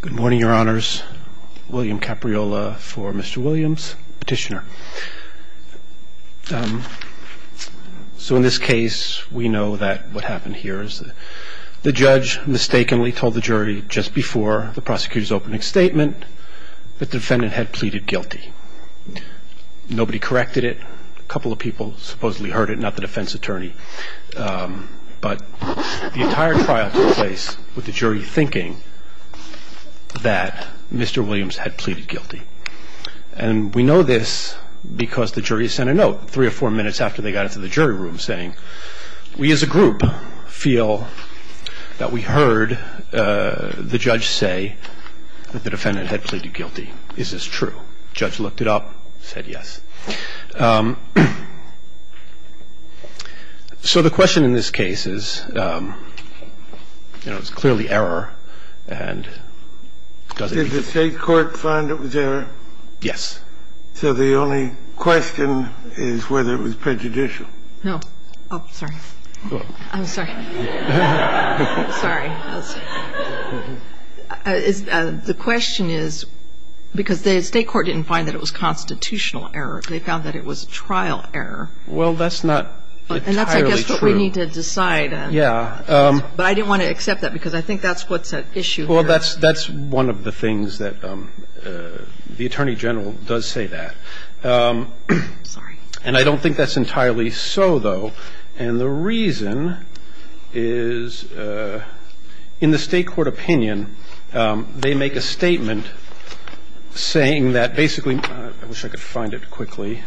Good morning your honors, William Capriola for Mr. Williams, petitioner. So in this case we know that what happened here is that the judge mistakenly told the jury just before the prosecutor's opening statement that the defendant had pleaded guilty. Nobody corrected it, a couple of people supposedly heard it, not the defense attorney, but the entire trial took place with the jury thinking that Mr. Williams had pleaded guilty. And we know this because the jury sent a note three or four minutes after they got into the jury room saying we as a group feel that we heard the judge say that the defendant had pleaded guilty. Is this true? The judge looked it up and said yes. So the question in this case is, you know, it's clearly error, and does it need to be? Did the state court find it was error? Yes. So the only question is whether it was prejudicial. No. Oh, sorry. I'm sorry. Sorry. The question is because the state court didn't find that it was constitutional error. They found that it was trial error. Well, that's not entirely true. And that's I guess what we need to decide. Yeah. But I didn't want to accept that because I think that's what's at issue here. Well, that's one of the things that the attorney general does say that. Sorry. And I don't think that's entirely so, though. And the reason is in the state court opinion, they make a statement saying that basically – I wish I could find it quickly.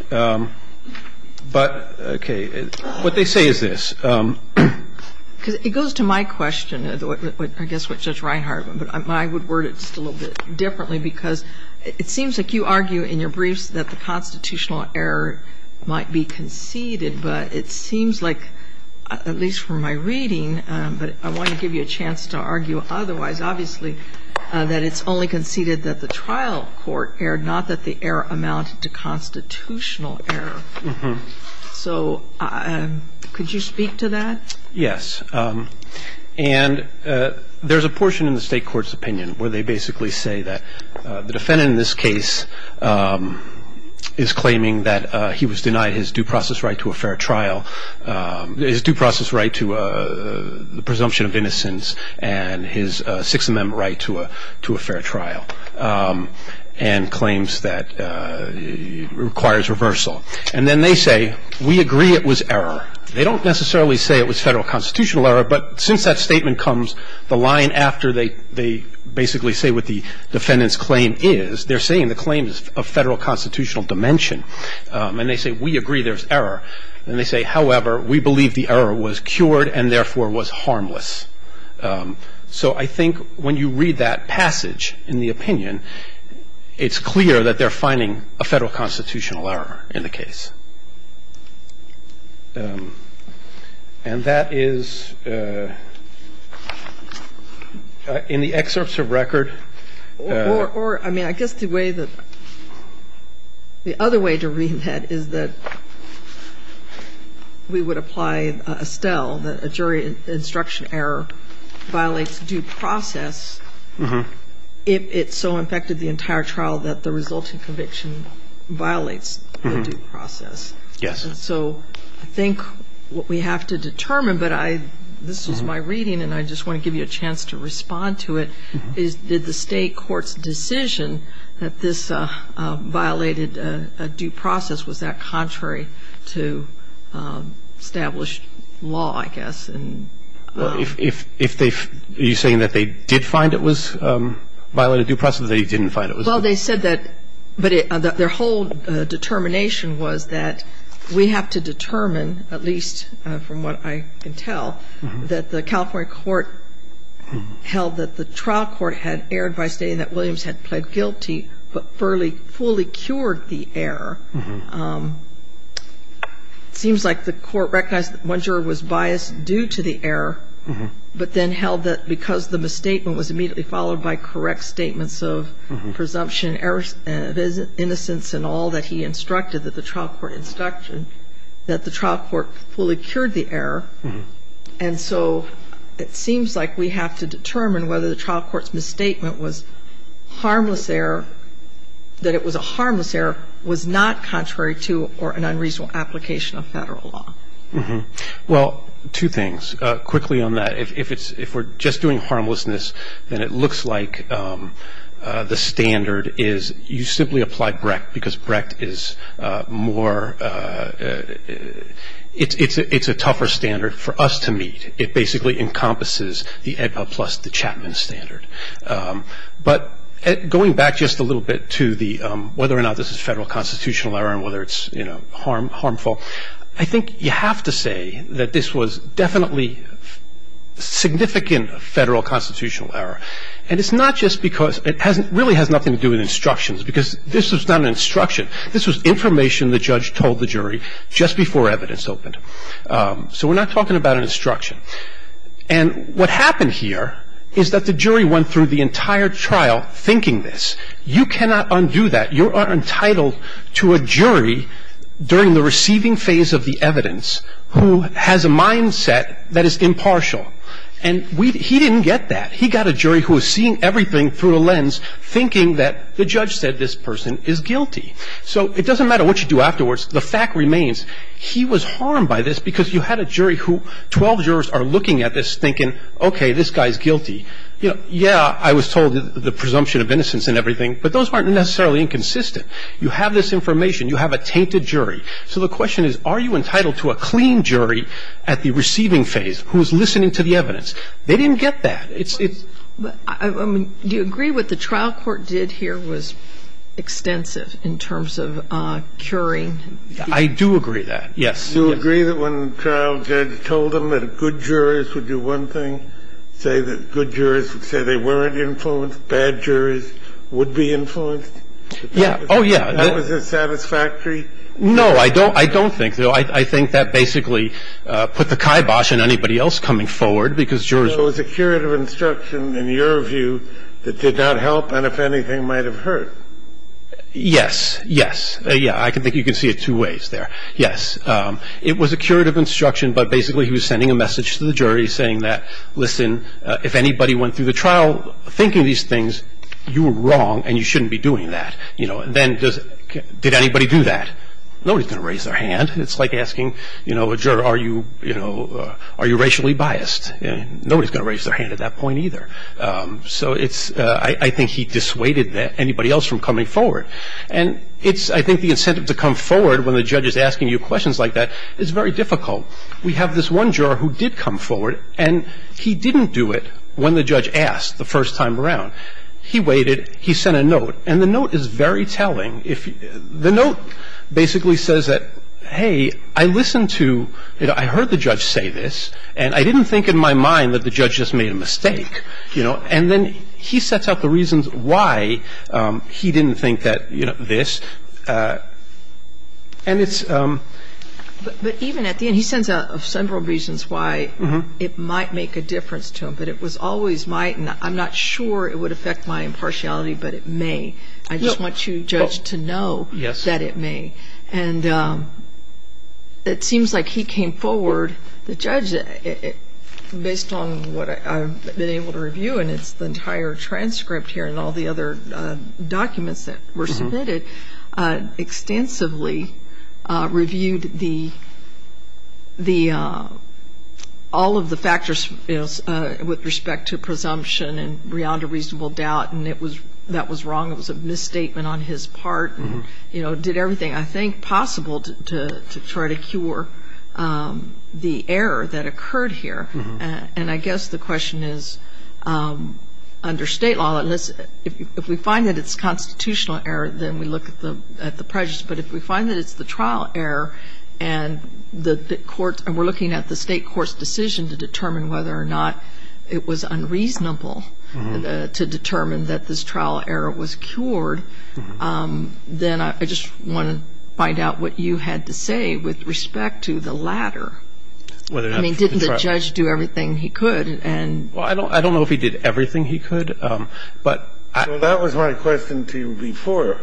But, okay, what they say is this. Because it goes to my question, I guess what Judge Reinhardt, but I would word it just a little bit differently because it seems like you argue in your briefs that the constitutional error might be conceded. But it seems like, at least from my reading, but I want to give you a chance to argue otherwise, obviously that it's only conceded that the trial court erred, not that the error amounted to constitutional error. So could you speak to that? Yes. And there's a portion in the state court's opinion where they basically say that the defendant in this case is claiming that he was denied his due process right to a fair trial, his due process right to the presumption of innocence and his Sixth Amendment right to a fair trial, and claims that it requires reversal. And then they say, we agree it was error. They don't necessarily say it was federal constitutional error, but since that statement comes the line after they basically say what the defendant's claim is, they're saying the claim is of federal constitutional dimension. And they say, we agree there's error. And they say, however, we believe the error was cured and, therefore, was harmless. So I think when you read that passage in the opinion, it's clear that they're finding a federal constitutional error in the case. And that is in the excerpts of record. Or, I mean, I guess the way that the other way to read that is that we would apply Estelle that a jury instruction error violates due process if it so infected the entire trial that the resulting conviction violates the due process. Yes. And so I think what we have to determine, but this is my reading, and I just want to give you a chance to respond to it, is did the state court's decision that this violated a due process, was that contrary to established law, I guess? Well, if they've – are you saying that they did find it was violated due process or they didn't find it was? Well, they said that – but their whole determination was that we have to determine, at least from what I can tell, that the California court held that the trial court had erred by stating that Williams had pled guilty but fully cured the error. It seems like the court recognized that one juror was biased due to the error, but then held that because the misstatement was immediately followed by correct statements of presumption of innocence and all that he instructed, that the trial court instructed, that the trial court fully cured the error. And so it seems like we have to determine whether the trial court's misstatement was harmless error, that it was a harmless error, was not contrary to or an unreasonable application of federal law. Well, two things. Quickly on that, if we're just doing harmlessness, then it looks like the standard is you simply apply Brecht because Brecht is more – it's a tougher standard for us to meet. It basically encompasses the AEDPA plus the Chapman standard. But going back just a little bit to whether or not this is federal constitutional error and whether it's harmful, I think you have to say that this was definitely significant federal constitutional error, and it's not just because – it really has nothing to do with instructions because this was not an instruction. This was information the judge told the jury just before evidence opened. So we're not talking about an instruction. And what happened here is that the jury went through the entire trial thinking this. You cannot undo that. You are entitled to a jury during the receiving phase of the evidence who has a mindset that is impartial. And he didn't get that. He got a jury who was seeing everything through a lens thinking that the judge said this person is guilty. So it doesn't matter what you do afterwards. The fact remains he was harmed by this because you had a jury who 12 jurors are looking at this thinking, okay, this guy is guilty. Yeah, I was told the presumption of innocence and everything, but those aren't necessarily inconsistent. You have this information. You have a tainted jury. So the question is are you entitled to a clean jury at the receiving phase who is listening to the evidence? They didn't get that. I mean, do you agree what the trial court did here was extensive in terms of curing? I do agree that, yes. Do you agree that when the trial judge told them that good jurors would do one thing, say that good jurors would say they weren't influenced, bad jurors would be influenced? Yeah. Oh, yeah. Was that satisfactory? No, I don't think so. I think that basically put the kibosh on anybody else coming forward because jurors wouldn't do that. So it was a curative instruction, in your view, that did not help and, if anything, might have hurt. Yes. Yes. Yeah, I think you can see it two ways there. Yes. It was a curative instruction, but basically he was sending a message to the jury saying that, listen, if anybody went through the trial thinking these things, you were wrong and you shouldn't be doing that. Then did anybody do that? Nobody's going to raise their hand. It's like asking a juror, are you racially biased? Nobody's going to raise their hand at that point either. So it's – I think he dissuaded anybody else from coming forward. And it's – I think the incentive to come forward when the judge is asking you questions like that is very difficult. We have this one juror who did come forward and he didn't do it when the judge asked the first time around. He waited. He sent a note. And the note is very telling. The note basically says that, hey, I listened to – I heard the judge say this and I didn't think in my mind that the judge just made a mistake, you know. And then he sets out the reasons why he didn't think that, you know, this. And it's – But even at the end, he sends out several reasons why it might make a difference to him. But it was always my – I'm not sure it would affect my impartiality, but it may. Yes. And it seems like he came forward, the judge, based on what I've been able to review and it's the entire transcript here and all the other documents that were submitted, extensively reviewed the – all of the factors, you know, with respect to presumption and beyond a reasonable doubt. And it was – that was wrong. It was a misstatement on his part and, you know, did everything. I think possible to try to cure the error that occurred here. And I guess the question is, under state law, unless – if we find that it's constitutional error, then we look at the prejudice. But if we find that it's the trial error and the court – and we're looking at the state court's decision to determine whether or not it was unreasonable to determine that this trial error was cured, then I just want to find out what you had to say with respect to the latter. I mean, didn't the judge do everything he could and – Well, I don't know if he did everything he could, but I – Well, that was my question to you before.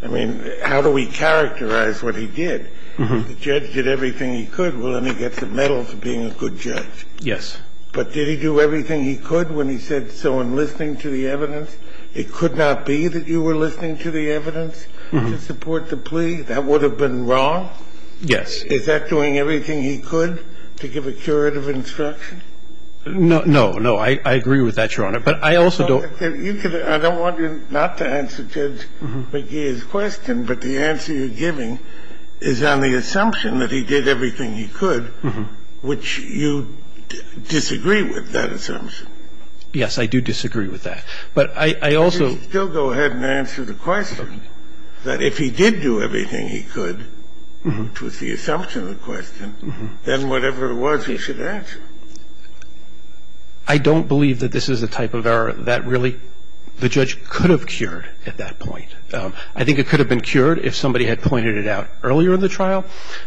I mean, how do we characterize what he did? If the judge did everything he could, well, then he gets a medal for being a good judge. Yes. But did he do everything he could when he said so in listening to the evidence? It could not be that you were listening to the evidence to support the plea? That would have been wrong? Yes. Is that doing everything he could to give a curative instruction? No. No. I agree with that, Your Honor. But I also don't – I don't want you not to answer Judge McGee's question, but the answer you're giving is on the assumption that he did everything he could, which you disagree with, that assumption. Yes, I do disagree with that. But I also – You should still go ahead and answer the question that if he did do everything he could, which was the assumption of the question, then whatever it was, he should answer. I don't believe that this is a type of error that really – the judge could have cured at that point. I think it could have been cured if somebody had pointed it out earlier in the trial.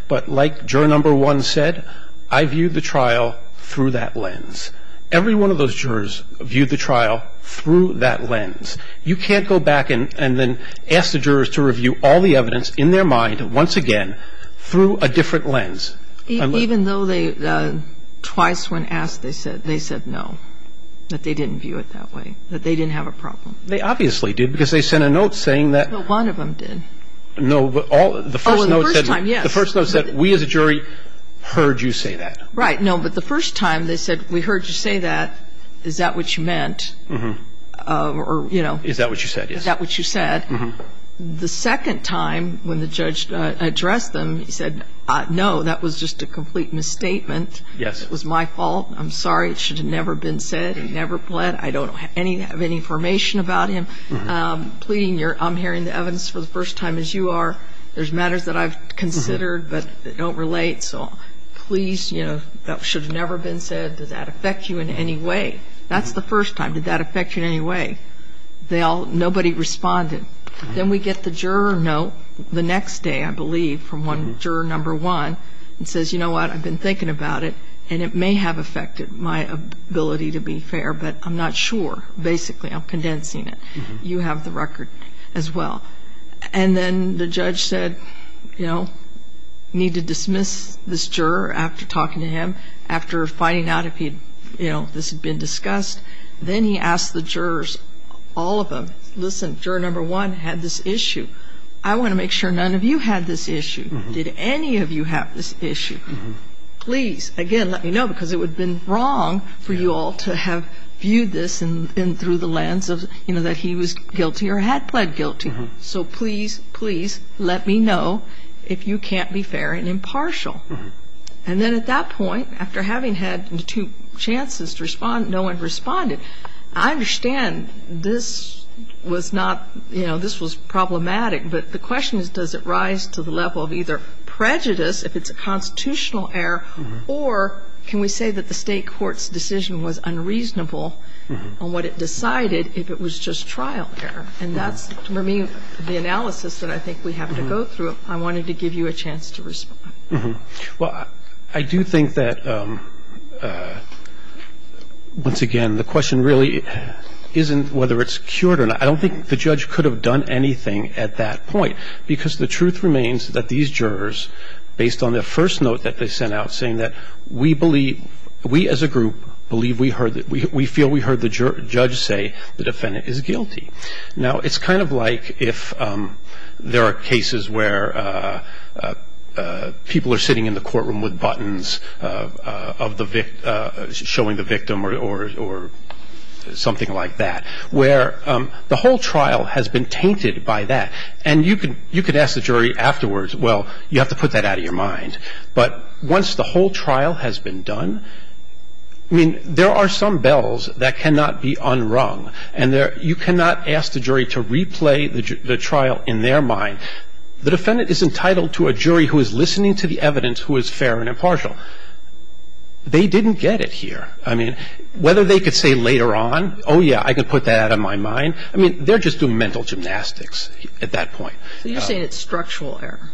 But like juror number one said, I viewed the trial through that lens. Every one of those jurors viewed the trial through that lens. You can't go back and then ask the jurors to review all the evidence in their mind once again through a different lens. Even though they – twice when asked, they said no, that they didn't view it that way, that they didn't have a problem. They obviously did because they sent a note saying that – Well, one of them did. No, but all – the first note said – Oh, the first time, yes. The first note said, we as a jury heard you say that. Right. No, but the first time they said, we heard you say that, is that what you meant? Mm-hmm. Or, you know – Is that what you said, yes. Is that what you said? Mm-hmm. The second time when the judge addressed them, he said, no, that was just a complete misstatement. Yes. It was my fault. I'm sorry. It should have never been said. He never bled. I don't have any information about him. Mm-hmm. Pleading your – I'm hearing the evidence for the first time, as you are. There's matters that I've considered, but they don't relate. So please, you know, that should have never been said. Did that affect you in any way? That's the first time. Did that affect you in any way? They all – nobody responded. Then we get the juror note the next day, I believe, from one – juror number one, and says, you know what, I've been thinking about it, and it may have affected my ability to be fair, but I'm not sure. Basically, I'm condensing it. Mm-hmm. You have the record as well. And then the judge said, you know, need to dismiss this juror after talking to him, after finding out if he – you know, this had been discussed. Then he asked the jurors, all of them, listen, juror number one had this issue. I want to make sure none of you had this issue. Did any of you have this issue? Mm-hmm. Please, again, let me know, because it would have been wrong for you all to have viewed this through the lens of, you know, that he was guilty or had pled guilty. So please, please let me know if you can't be fair and impartial. Mm-hmm. And then at that point, after having had two chances to respond, no one responded. I understand this was not – you know, this was problematic, but the question is does it rise to the level of either prejudice, if it's a constitutional error, or can we say that the State court's decision was unreasonable on what it decided if it was just trial error. And that's, to me, the analysis that I think we have to go through. I wanted to give you a chance to respond. Mm-hmm. Well, I do think that, once again, the question really isn't whether it's cured or not. I don't think the judge could have done anything at that point, because the truth remains that these jurors, based on their first note that they sent out, saying that we believe – we, as a group, believe we heard – we feel we heard the judge say the defendant is guilty. Now, it's kind of like if there are cases where people are sitting in the courtroom with buttons showing the victim or something like that, where the whole trial has been tainted by that. And you could ask the jury afterwards, well, you have to put that out of your mind. But once the whole trial has been done – I mean, there are some bells that cannot be unrung, and you cannot ask the jury to replay the trial in their mind. The defendant is entitled to a jury who is listening to the evidence, who is fair and impartial. They didn't get it here. I mean, whether they could say later on, oh, yeah, I can put that out of my mind – I mean, they're just doing mental gymnastics at that point. So you're saying it's structural error?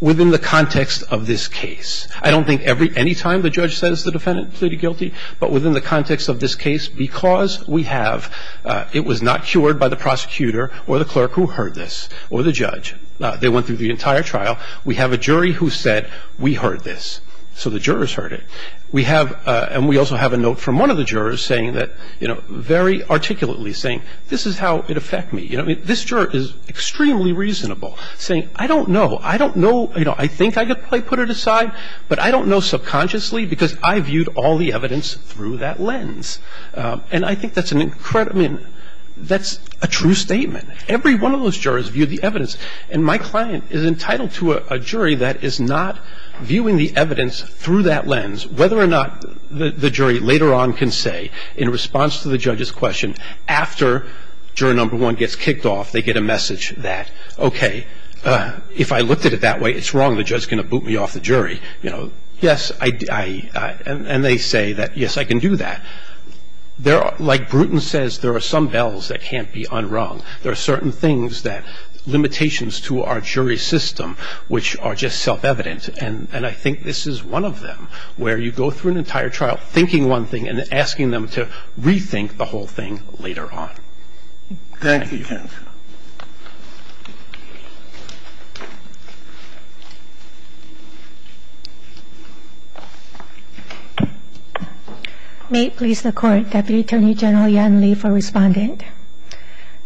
Within the context of this case. I don't think any time the judge says the defendant pleaded guilty, but within the context of this case, because we have – it was not cured by the prosecutor or the clerk who heard this, or the judge. They went through the entire trial. We have a jury who said we heard this, so the jurors heard it. We have – and we also have a note from one of the jurors saying that – you know, very articulately saying this is how it affects me. You know, this juror is extremely reasonable, saying I don't know. I don't know – you know, I think I could put it aside, but I don't know subconsciously because I viewed all the evidence through that lens. And I think that's an incredible – I mean, that's a true statement. Every one of those jurors viewed the evidence. And my client is entitled to a jury that is not viewing the evidence through that lens, whether or not the jury later on can say, in response to the judge's question, after juror number one gets kicked off, they get a message that, okay, if I looked at it that way, it's wrong, the judge is going to boot me off the jury. You know, yes, I – and they say that, yes, I can do that. Like Bruton says, there are some bells that can't be unrung. There are certain things that – limitations to our jury system which are just self-evident. And I think this is one of them, where you go through an entire trial thinking one thing and asking them to rethink the whole thing later on. Thank you. Thank you. May it please the Court, Deputy Attorney General Yan Lee for Respondent.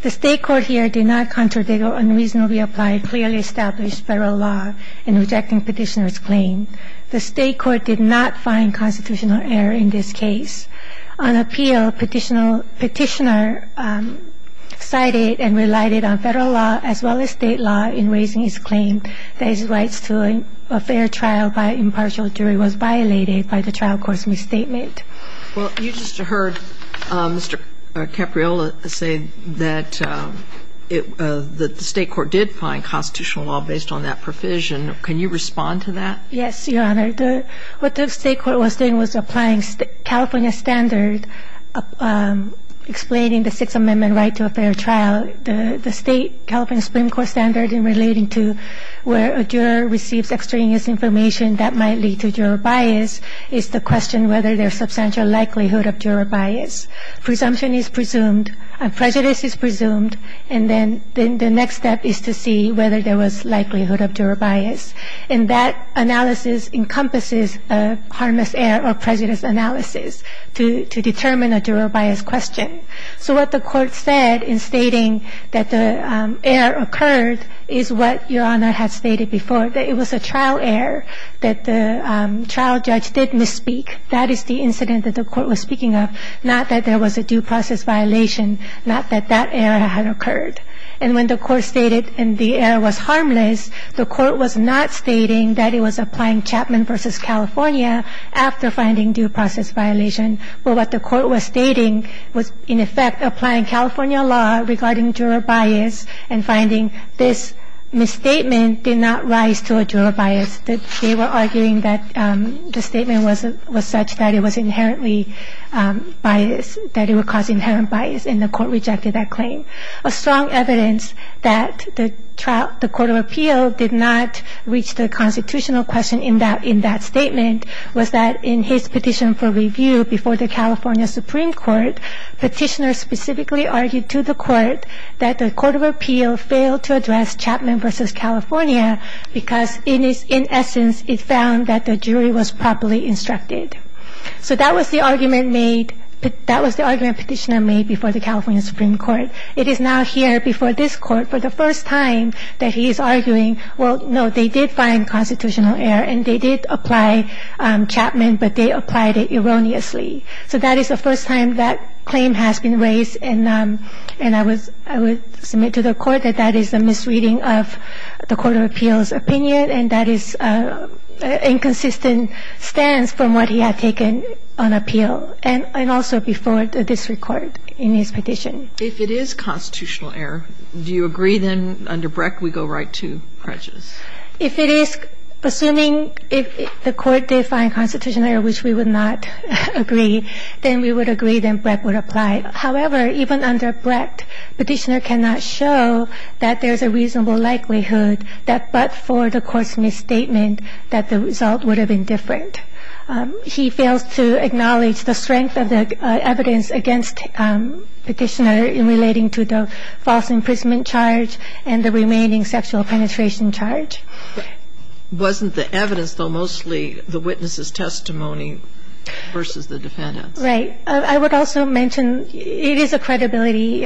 The State court here did not contradict or unreasonably apply clearly established Federal law in rejecting Petitioner's claim. The State court did not find constitutional error in this case. On appeal, Petitioner cited and relied on Federal law as well as State law in raising his claim that his rights to a fair trial by impartial jury was violated by the trial court's misstatement. Well, you just heard Mr. Capriola say that the State court did find constitutional I know that the State court is not applying the Federal law based on that provision. Can you respond to that? Yes, Your Honor. What the State court was doing was applying California standard, explaining the Sixth Amendment right to a fair trial. The State, California Supreme Court standard in relating to where a juror receives extraneous information that might lead to juror bias is to question whether there is substantial likelihood of juror bias. Presumption is presumed, prejudice is presumed, and then the next step is to see whether there was likelihood of juror bias. And that analysis encompasses a harmless error or prejudice analysis to determine a juror bias question. So what the Court said in stating that the error occurred is what Your Honor had stated before, that it was a trial error, that the trial judge did misspeak. That is the incident that the Court was speaking of, not that there was a due process violation, not that that error had occurred. And when the Court stated and the error was harmless, the Court was not stating that it was applying Chapman v. California after finding due process violation, but what the Court was stating was in effect applying California law regarding juror bias and finding this misstatement did not rise to a juror bias. They were arguing that the statement was such that it was inherently biased, that it would cause inherent bias, and the Court rejected that claim. A strong evidence that the Court of Appeal did not reach the constitutional question in that statement was that in his petition for review before the California Supreme Court, petitioners specifically argued to the Court that the Court of Appeal failed to address Chapman v. California because in essence it found that the jury was properly instructed. So that was the argument made, that was the argument petitioner made before the California Supreme Court. It is now here before this Court for the first time that he is arguing, well, no, they did find constitutional error and they did apply Chapman, but they applied it erroneously. So that is the first time that claim has been raised, and I would submit to the Court that that is a misreading of the Court of Appeal's opinion, and that is an inconsistent stance from what he had taken on appeal, and also before this Court in his petition. If it is constitutional error, do you agree then under Brecht we go right to prejudice? If it is, assuming the Court did find constitutional error, which we would not agree, then we would agree that Brecht would apply. However, even under Brecht, petitioner cannot show that there is a reasonable likelihood that but for the Court's misstatement that the result would have been different. He fails to acknowledge the strength of the evidence against petitioner in relating to the false imprisonment charge and the remaining sexual penetration charges in charge. Wasn't the evidence, though, mostly the witness's testimony versus the defendant's? Right. I would also mention it is a credibility.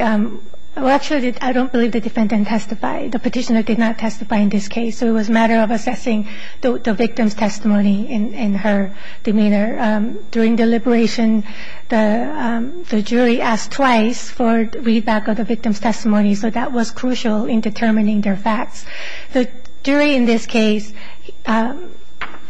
Well, actually, I don't believe the defendant testified. The petitioner did not testify in this case. So it was a matter of assessing the victim's testimony and her demeanor. During deliberation, the jury asked twice for readback of the victim's testimony, so that was crucial in determining their facts. The jury in this case, the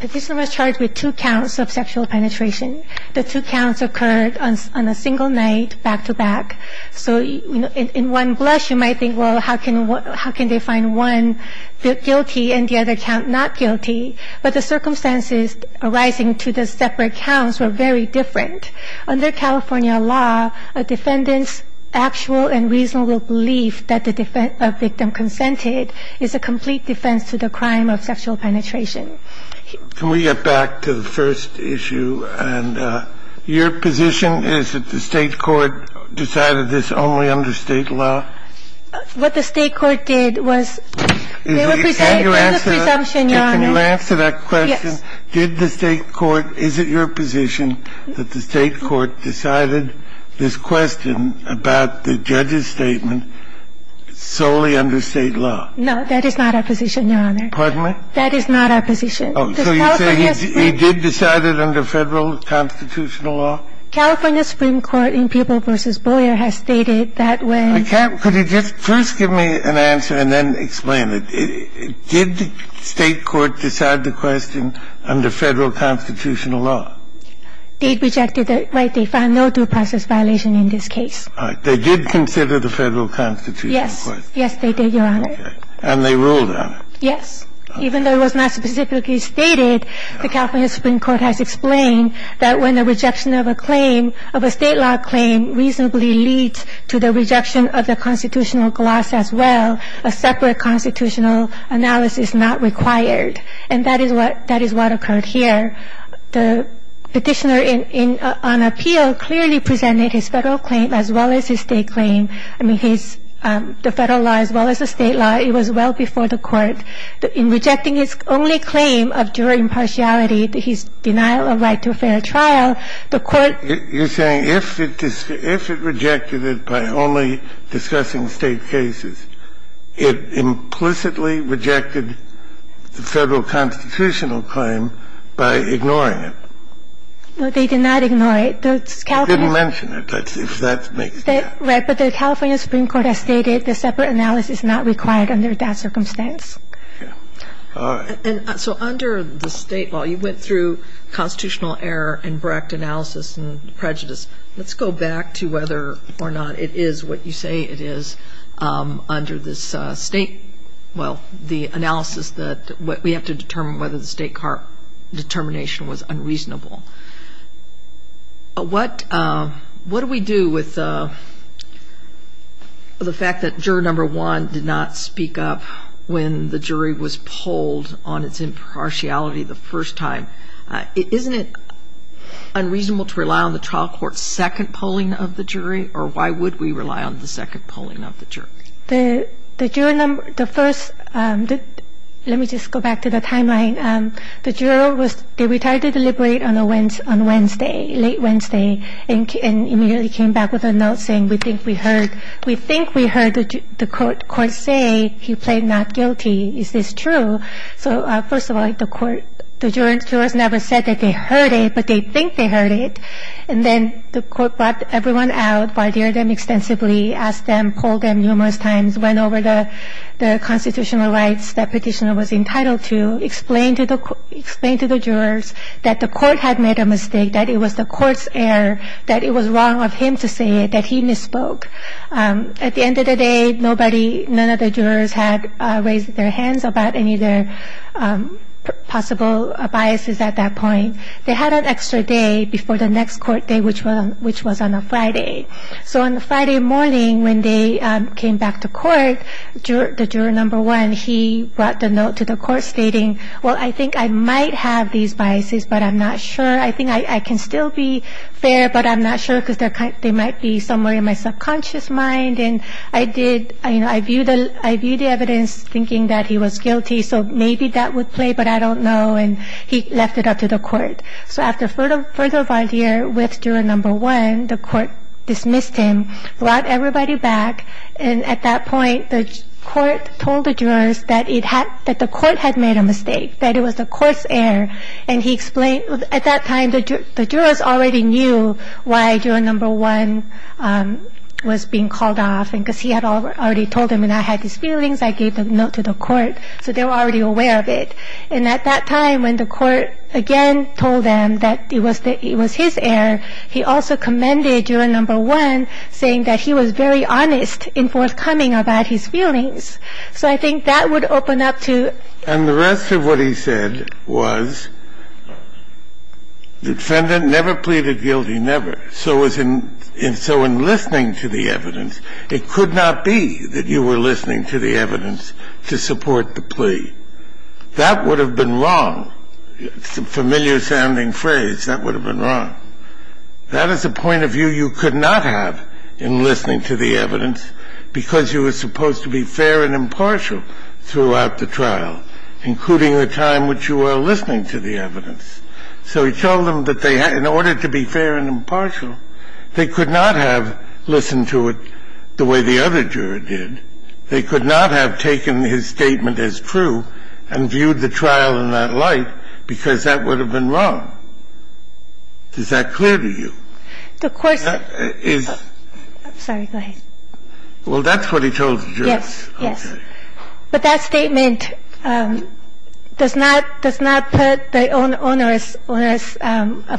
petitioner was charged with two counts of sexual penetration. The two counts occurred on a single night, back-to-back. So in one blush, you might think, well, how can they find one guilty and the other count not guilty? But the circumstances arising to the separate counts were very different. Under California law, a defendant's actual and reasonable belief that the victim consented is a complete defense to the crime of sexual penetration. Can we get back to the first issue? And your position is that the State court decided this only under State law? What the State court did was they were presented with a presumption, Your Honor. Can you answer that question? Yes. Did the State court – is it your position that the State court decided this question about the judge's statement solely under State law? No, that is not our position, Your Honor. Pardon me? That is not our position. Oh, so you say he did decide it under Federal constitutional law? California Supreme Court in People v. Boyer has stated that way. I can't – could you just first give me an answer and then explain it? Did the State court decide the question under Federal constitutional law? They rejected it. They found no due process violation in this case. All right. They did consider the Federal constitutional question? Yes. Yes, they did, Your Honor. Okay. And they ruled on it? Yes. Even though it was not specifically stated, the California Supreme Court has explained that when the rejection of a claim, of a State law claim, reasonably leads to the state's claim being not subject to the federal analysis not required, and that is what occurred here. The Petitioner, on appeal, clearly presented his Federal claim as well as his State claim. I mean, his – the Federal law as well as the State law, it was well before the court. In rejecting his only claim of juror impartiality, his denial of right to a fair trial, the court – the State court rejected the Federal constitutional claim by ignoring it. No, they did not ignore it. The California – They didn't mention it, if that makes sense. Right. But the California Supreme Court has stated the separate analysis is not required under that circumstance. Okay. All right. And so under the State law, you went through constitutional error and direct analysis and prejudice. Let's go back to whether or not it is what you say it is under this State – well, the analysis that we have to determine whether the State court determination was unreasonable. What – what do we do with the fact that juror number one did not speak up when the jury was polled on its impartiality the first time? Isn't it unreasonable to rely on the trial court's second polling of the jury? Or why would we rely on the second polling of the jury? The – the juror number – the first – let me just go back to the timeline. The juror was – they retired to deliberate on a – on Wednesday, late Wednesday, and immediately came back with a note saying, we think we heard – we think we heard the court say he plead not guilty. Is this true? So first of all, the court – the jurors never said that they heard it, but they think they heard it. And then the court brought everyone out, barred them extensively, asked them, polled them numerous times, went over the constitutional rights that petitioner was entitled to, explained to the – explained to the jurors that the court had made a mistake, that it was the court's error, that it was wrong of him to say it, that he misspoke. At the end of the day, nobody – none of the jurors had raised their hands about any of their possible biases at that point. They had an extra day before the next court day, which was – which was on a Friday. So on the Friday morning when they came back to court, the juror number one, he brought the note to the court stating, well, I think I might have these biases, but I'm not sure. I think I can still be fair, but I'm not sure because they're – they might be somewhere in my subconscious mind. And I did – I viewed the – I viewed the evidence thinking that he was guilty, so maybe that would play, but I don't know. And he left it up to the court. So after further – further of idea with juror number one, the court dismissed him, brought everybody back. And at that point, the court told the jurors that it had – that the court had made a mistake, that it was the court's error. And he explained – at that time, the jurors already knew why juror number one was being called off, because he had already told them, and I had these feelings. I gave the note to the court. So they were already aware of it. And at that time, when the court again told them that it was the – it was his error, he also commended juror number one, saying that he was very honest in forthcoming about his feelings. So I think that would open up to – And the rest of what he said was the defendant never pleaded guilty, never. So as in – so in listening to the evidence, it could not be that you were listening to the evidence to support the plea. That would have been wrong. It's a familiar-sounding phrase. That would have been wrong. That is a point of view you could not have in listening to the evidence, because you were supposed to be fair and impartial throughout the trial, including the time which you were listening to the evidence. So he told them that they – in order to be fair and impartial, they could not have listened to it the way the other juror did. They could not have taken his statement as true and viewed the trial in that light because that would have been wrong. Is that clear to you? The court's – Is – I'm sorry. Go ahead. Well, that's what he told the jurors. Yes. Yes. Okay. But that statement does not – does not put the onerous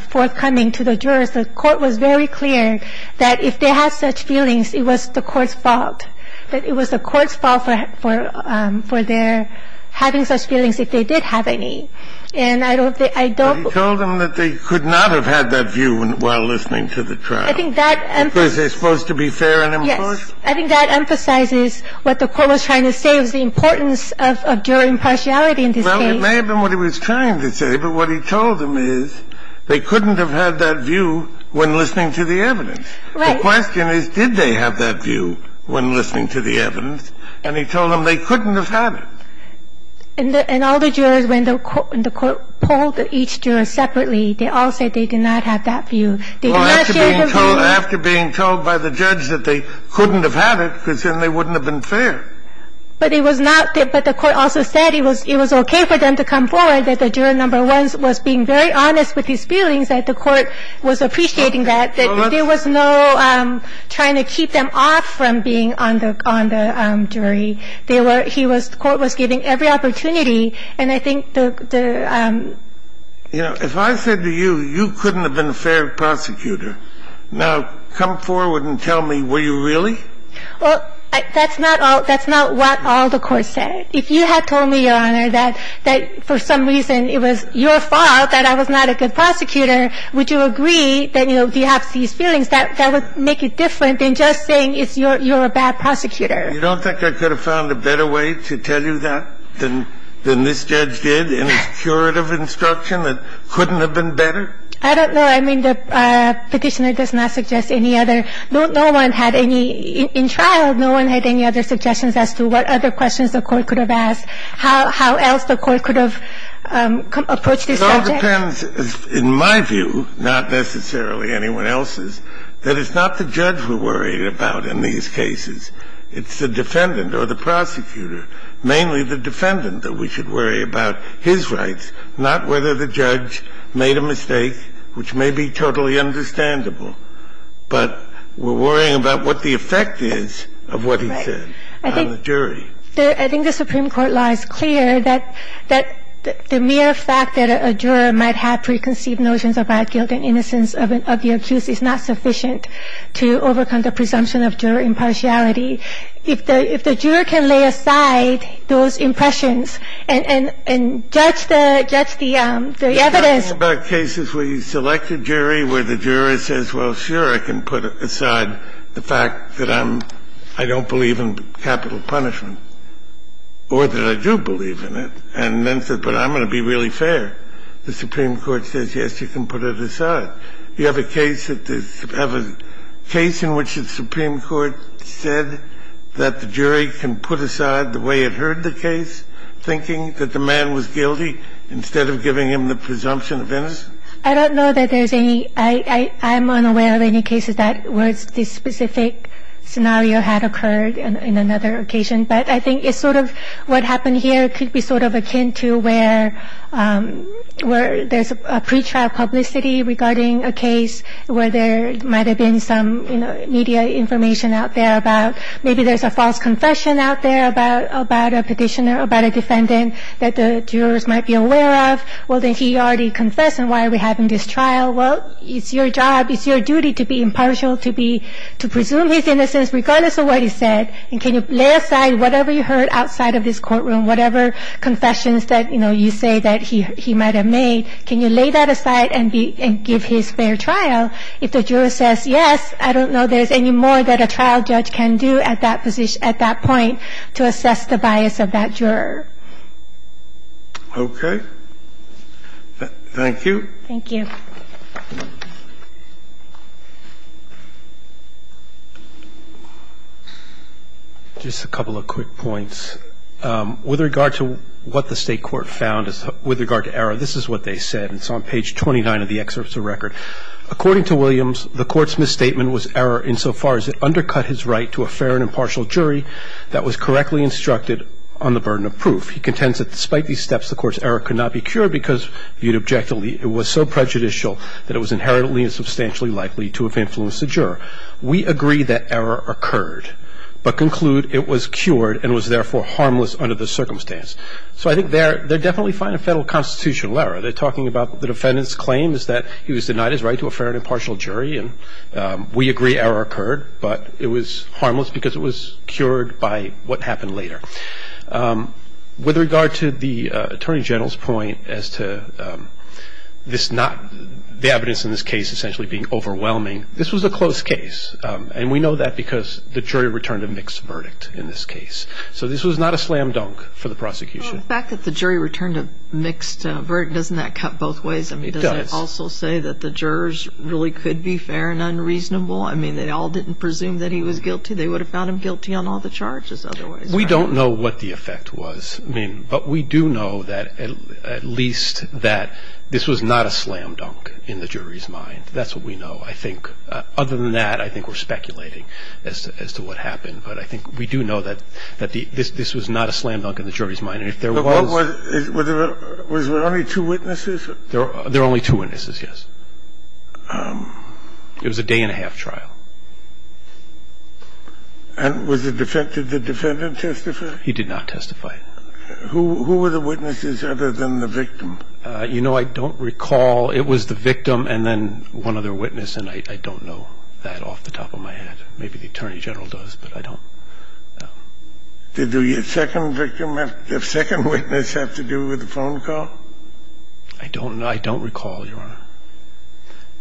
forthcoming to the jurors. The court was very clear that if they had such feelings, it was the court's fault, that it was the court's fault for their having such feelings if they did have any. And I don't – I don't – But he told them that they could not have had that view while listening to the trial. I think that emphasizes – Because they're supposed to be fair and impartial. Yes. I think that emphasizes what the court was trying to say was the importance of jury impartiality in this case. Well, it may have been what he was trying to say, but what he told them is they couldn't have had that view when listening to the evidence. The question is, did they have that view when listening to the evidence? And he told them they couldn't have had it. And all the jurors, when the court polled each juror separately, they all said they did not have that view. They did not share their view. Well, after being told – after being told by the judge that they couldn't have had it, because then they wouldn't have been fair. But it was not – but the court also said it was okay for them to come forward, that the juror number one was being very honest with his feelings, that the court was appreciating that. That there was no trying to keep them off from being on the jury. They were – he was – the court was giving every opportunity. And I think the – You know, if I said to you, you couldn't have been a fair prosecutor, now come forward and tell me, were you really? Well, that's not all – that's not what all the courts said. If you had told me, Your Honor, that for some reason it was your fault, that I was not a good prosecutor, would you agree that, you know, you have these feelings that would make it different than just saying it's your – you're a bad prosecutor? You don't think I could have found a better way to tell you that than this judge did in his curative instruction that couldn't have been better? I don't know. I mean, the Petitioner does not suggest any other – no one had any – in trial, no one had any other suggestions as to what other questions the court could have asked, how else the court could have approached this subject. Well, it depends, in my view, not necessarily anyone else's, that it's not the judge we're worried about in these cases. It's the defendant or the prosecutor, mainly the defendant, that we should worry about his rights, not whether the judge made a mistake, which may be totally understandable. But we're worrying about what the effect is of what he said on the jury. I think the Supreme Court law is clear that the mere fact that a juror might have preconceived notions about guilt and innocence of the accused is not sufficient to overcome the presumption of juror impartiality. If the juror can lay aside those impressions and judge the evidence – You're talking about cases where you select a jury, where the juror says, well, sure, I can put aside the fact that I don't believe in capital punishment. Or that I do believe in it. And then says, but I'm going to be really fair. The Supreme Court says, yes, you can put it aside. You have a case that the – have a case in which the Supreme Court said that the jury can put aside the way it heard the case, thinking that the man was guilty, instead of giving him the presumption of innocence? I don't know that there's any – I'm unaware of any cases where this specific scenario had occurred in another occasion. But I think it's sort of what happened here could be sort of akin to where there's a pretrial publicity regarding a case where there might have been some media information out there about – maybe there's a false confession out there about a petitioner or about a defendant that the jurors might be aware of. Well, then he already confessed, and why are we having this trial? Well, it's your job, it's your duty to be impartial, to be – to presume his innocence regardless of what he said, and can you lay aside whatever you heard outside of this courtroom, whatever confessions that, you know, you say that he might have made, can you lay that aside and be – and give his fair trial if the juror says, yes, I don't know there's any more that a trial judge can do at that position – at that point to assess the bias of that juror? Okay. Thank you. Thank you. Just a couple of quick points. With regard to what the state court found, with regard to error, this is what they said. It's on page 29 of the excerpt of the record. According to Williams, the court's misstatement was error insofar as it undercut his right to a fair and impartial jury that was correctly instructed on the burden of proof. He contends that despite these steps, the court's error could not be cured because, viewed objectively, it was so prejudicial that it was inherently and substantially likely to have influenced the juror. We agree that error occurred, but conclude it was cured and was, therefore, harmless under the circumstance. So I think they're definitely finding federal constitutional error. They're talking about the defendant's claim is that he was denied his right to a fair and impartial jury, and we agree error occurred, but it was harmless because it was cured by what happened later. With regard to the Attorney General's point as to the evidence in this case essentially being overwhelming, this was a close case, and we know that because the jury returned a mixed verdict in this case. So this was not a slam dunk for the prosecution. The fact that the jury returned a mixed verdict, doesn't that cut both ways? It does. Does it also say that the jurors really could be fair and unreasonable? I mean, they all didn't presume that he was guilty. They would have found him guilty on all the charges otherwise. We don't know what the effect was. I mean, but we do know that at least that this was not a slam dunk in the jury's mind. That's what we know, I think. Other than that, I think we're speculating as to what happened. But I think we do know that this was not a slam dunk in the jury's mind. And if there was — Was there only two witnesses? There were only two witnesses, yes. It was a day-and-a-half trial. And was the defendant testifying? He did not testify. Who were the witnesses other than the victim? You know, I don't recall. It was the victim and then one other witness, and I don't know that off the top of my head. Maybe the Attorney General does, but I don't know. Did the second witness have to do with the phone call? I don't know. I don't recall, Your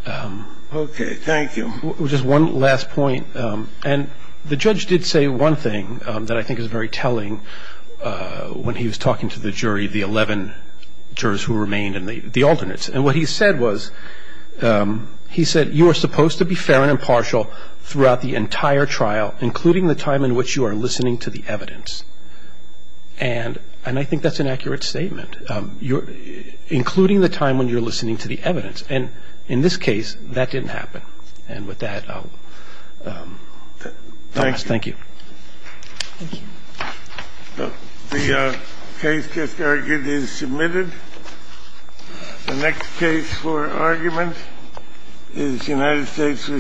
Honor. Okay. Thank you. Just one last point. And the judge did say one thing that I think is very telling when he was talking to the jury, the 11 jurors who remained and the alternates. And what he said was, he said, you are supposed to be fair and impartial throughout the entire trial, including the time in which you are listening to the evidence. And I think that's an accurate statement, including the time when you're listening to the evidence. And in this case, that didn't happen. And with that, I'll close. Thank you. Thank you. The case just argued is submitted. The next case for argument is United States v. Hardwich. United States v. Hardwich.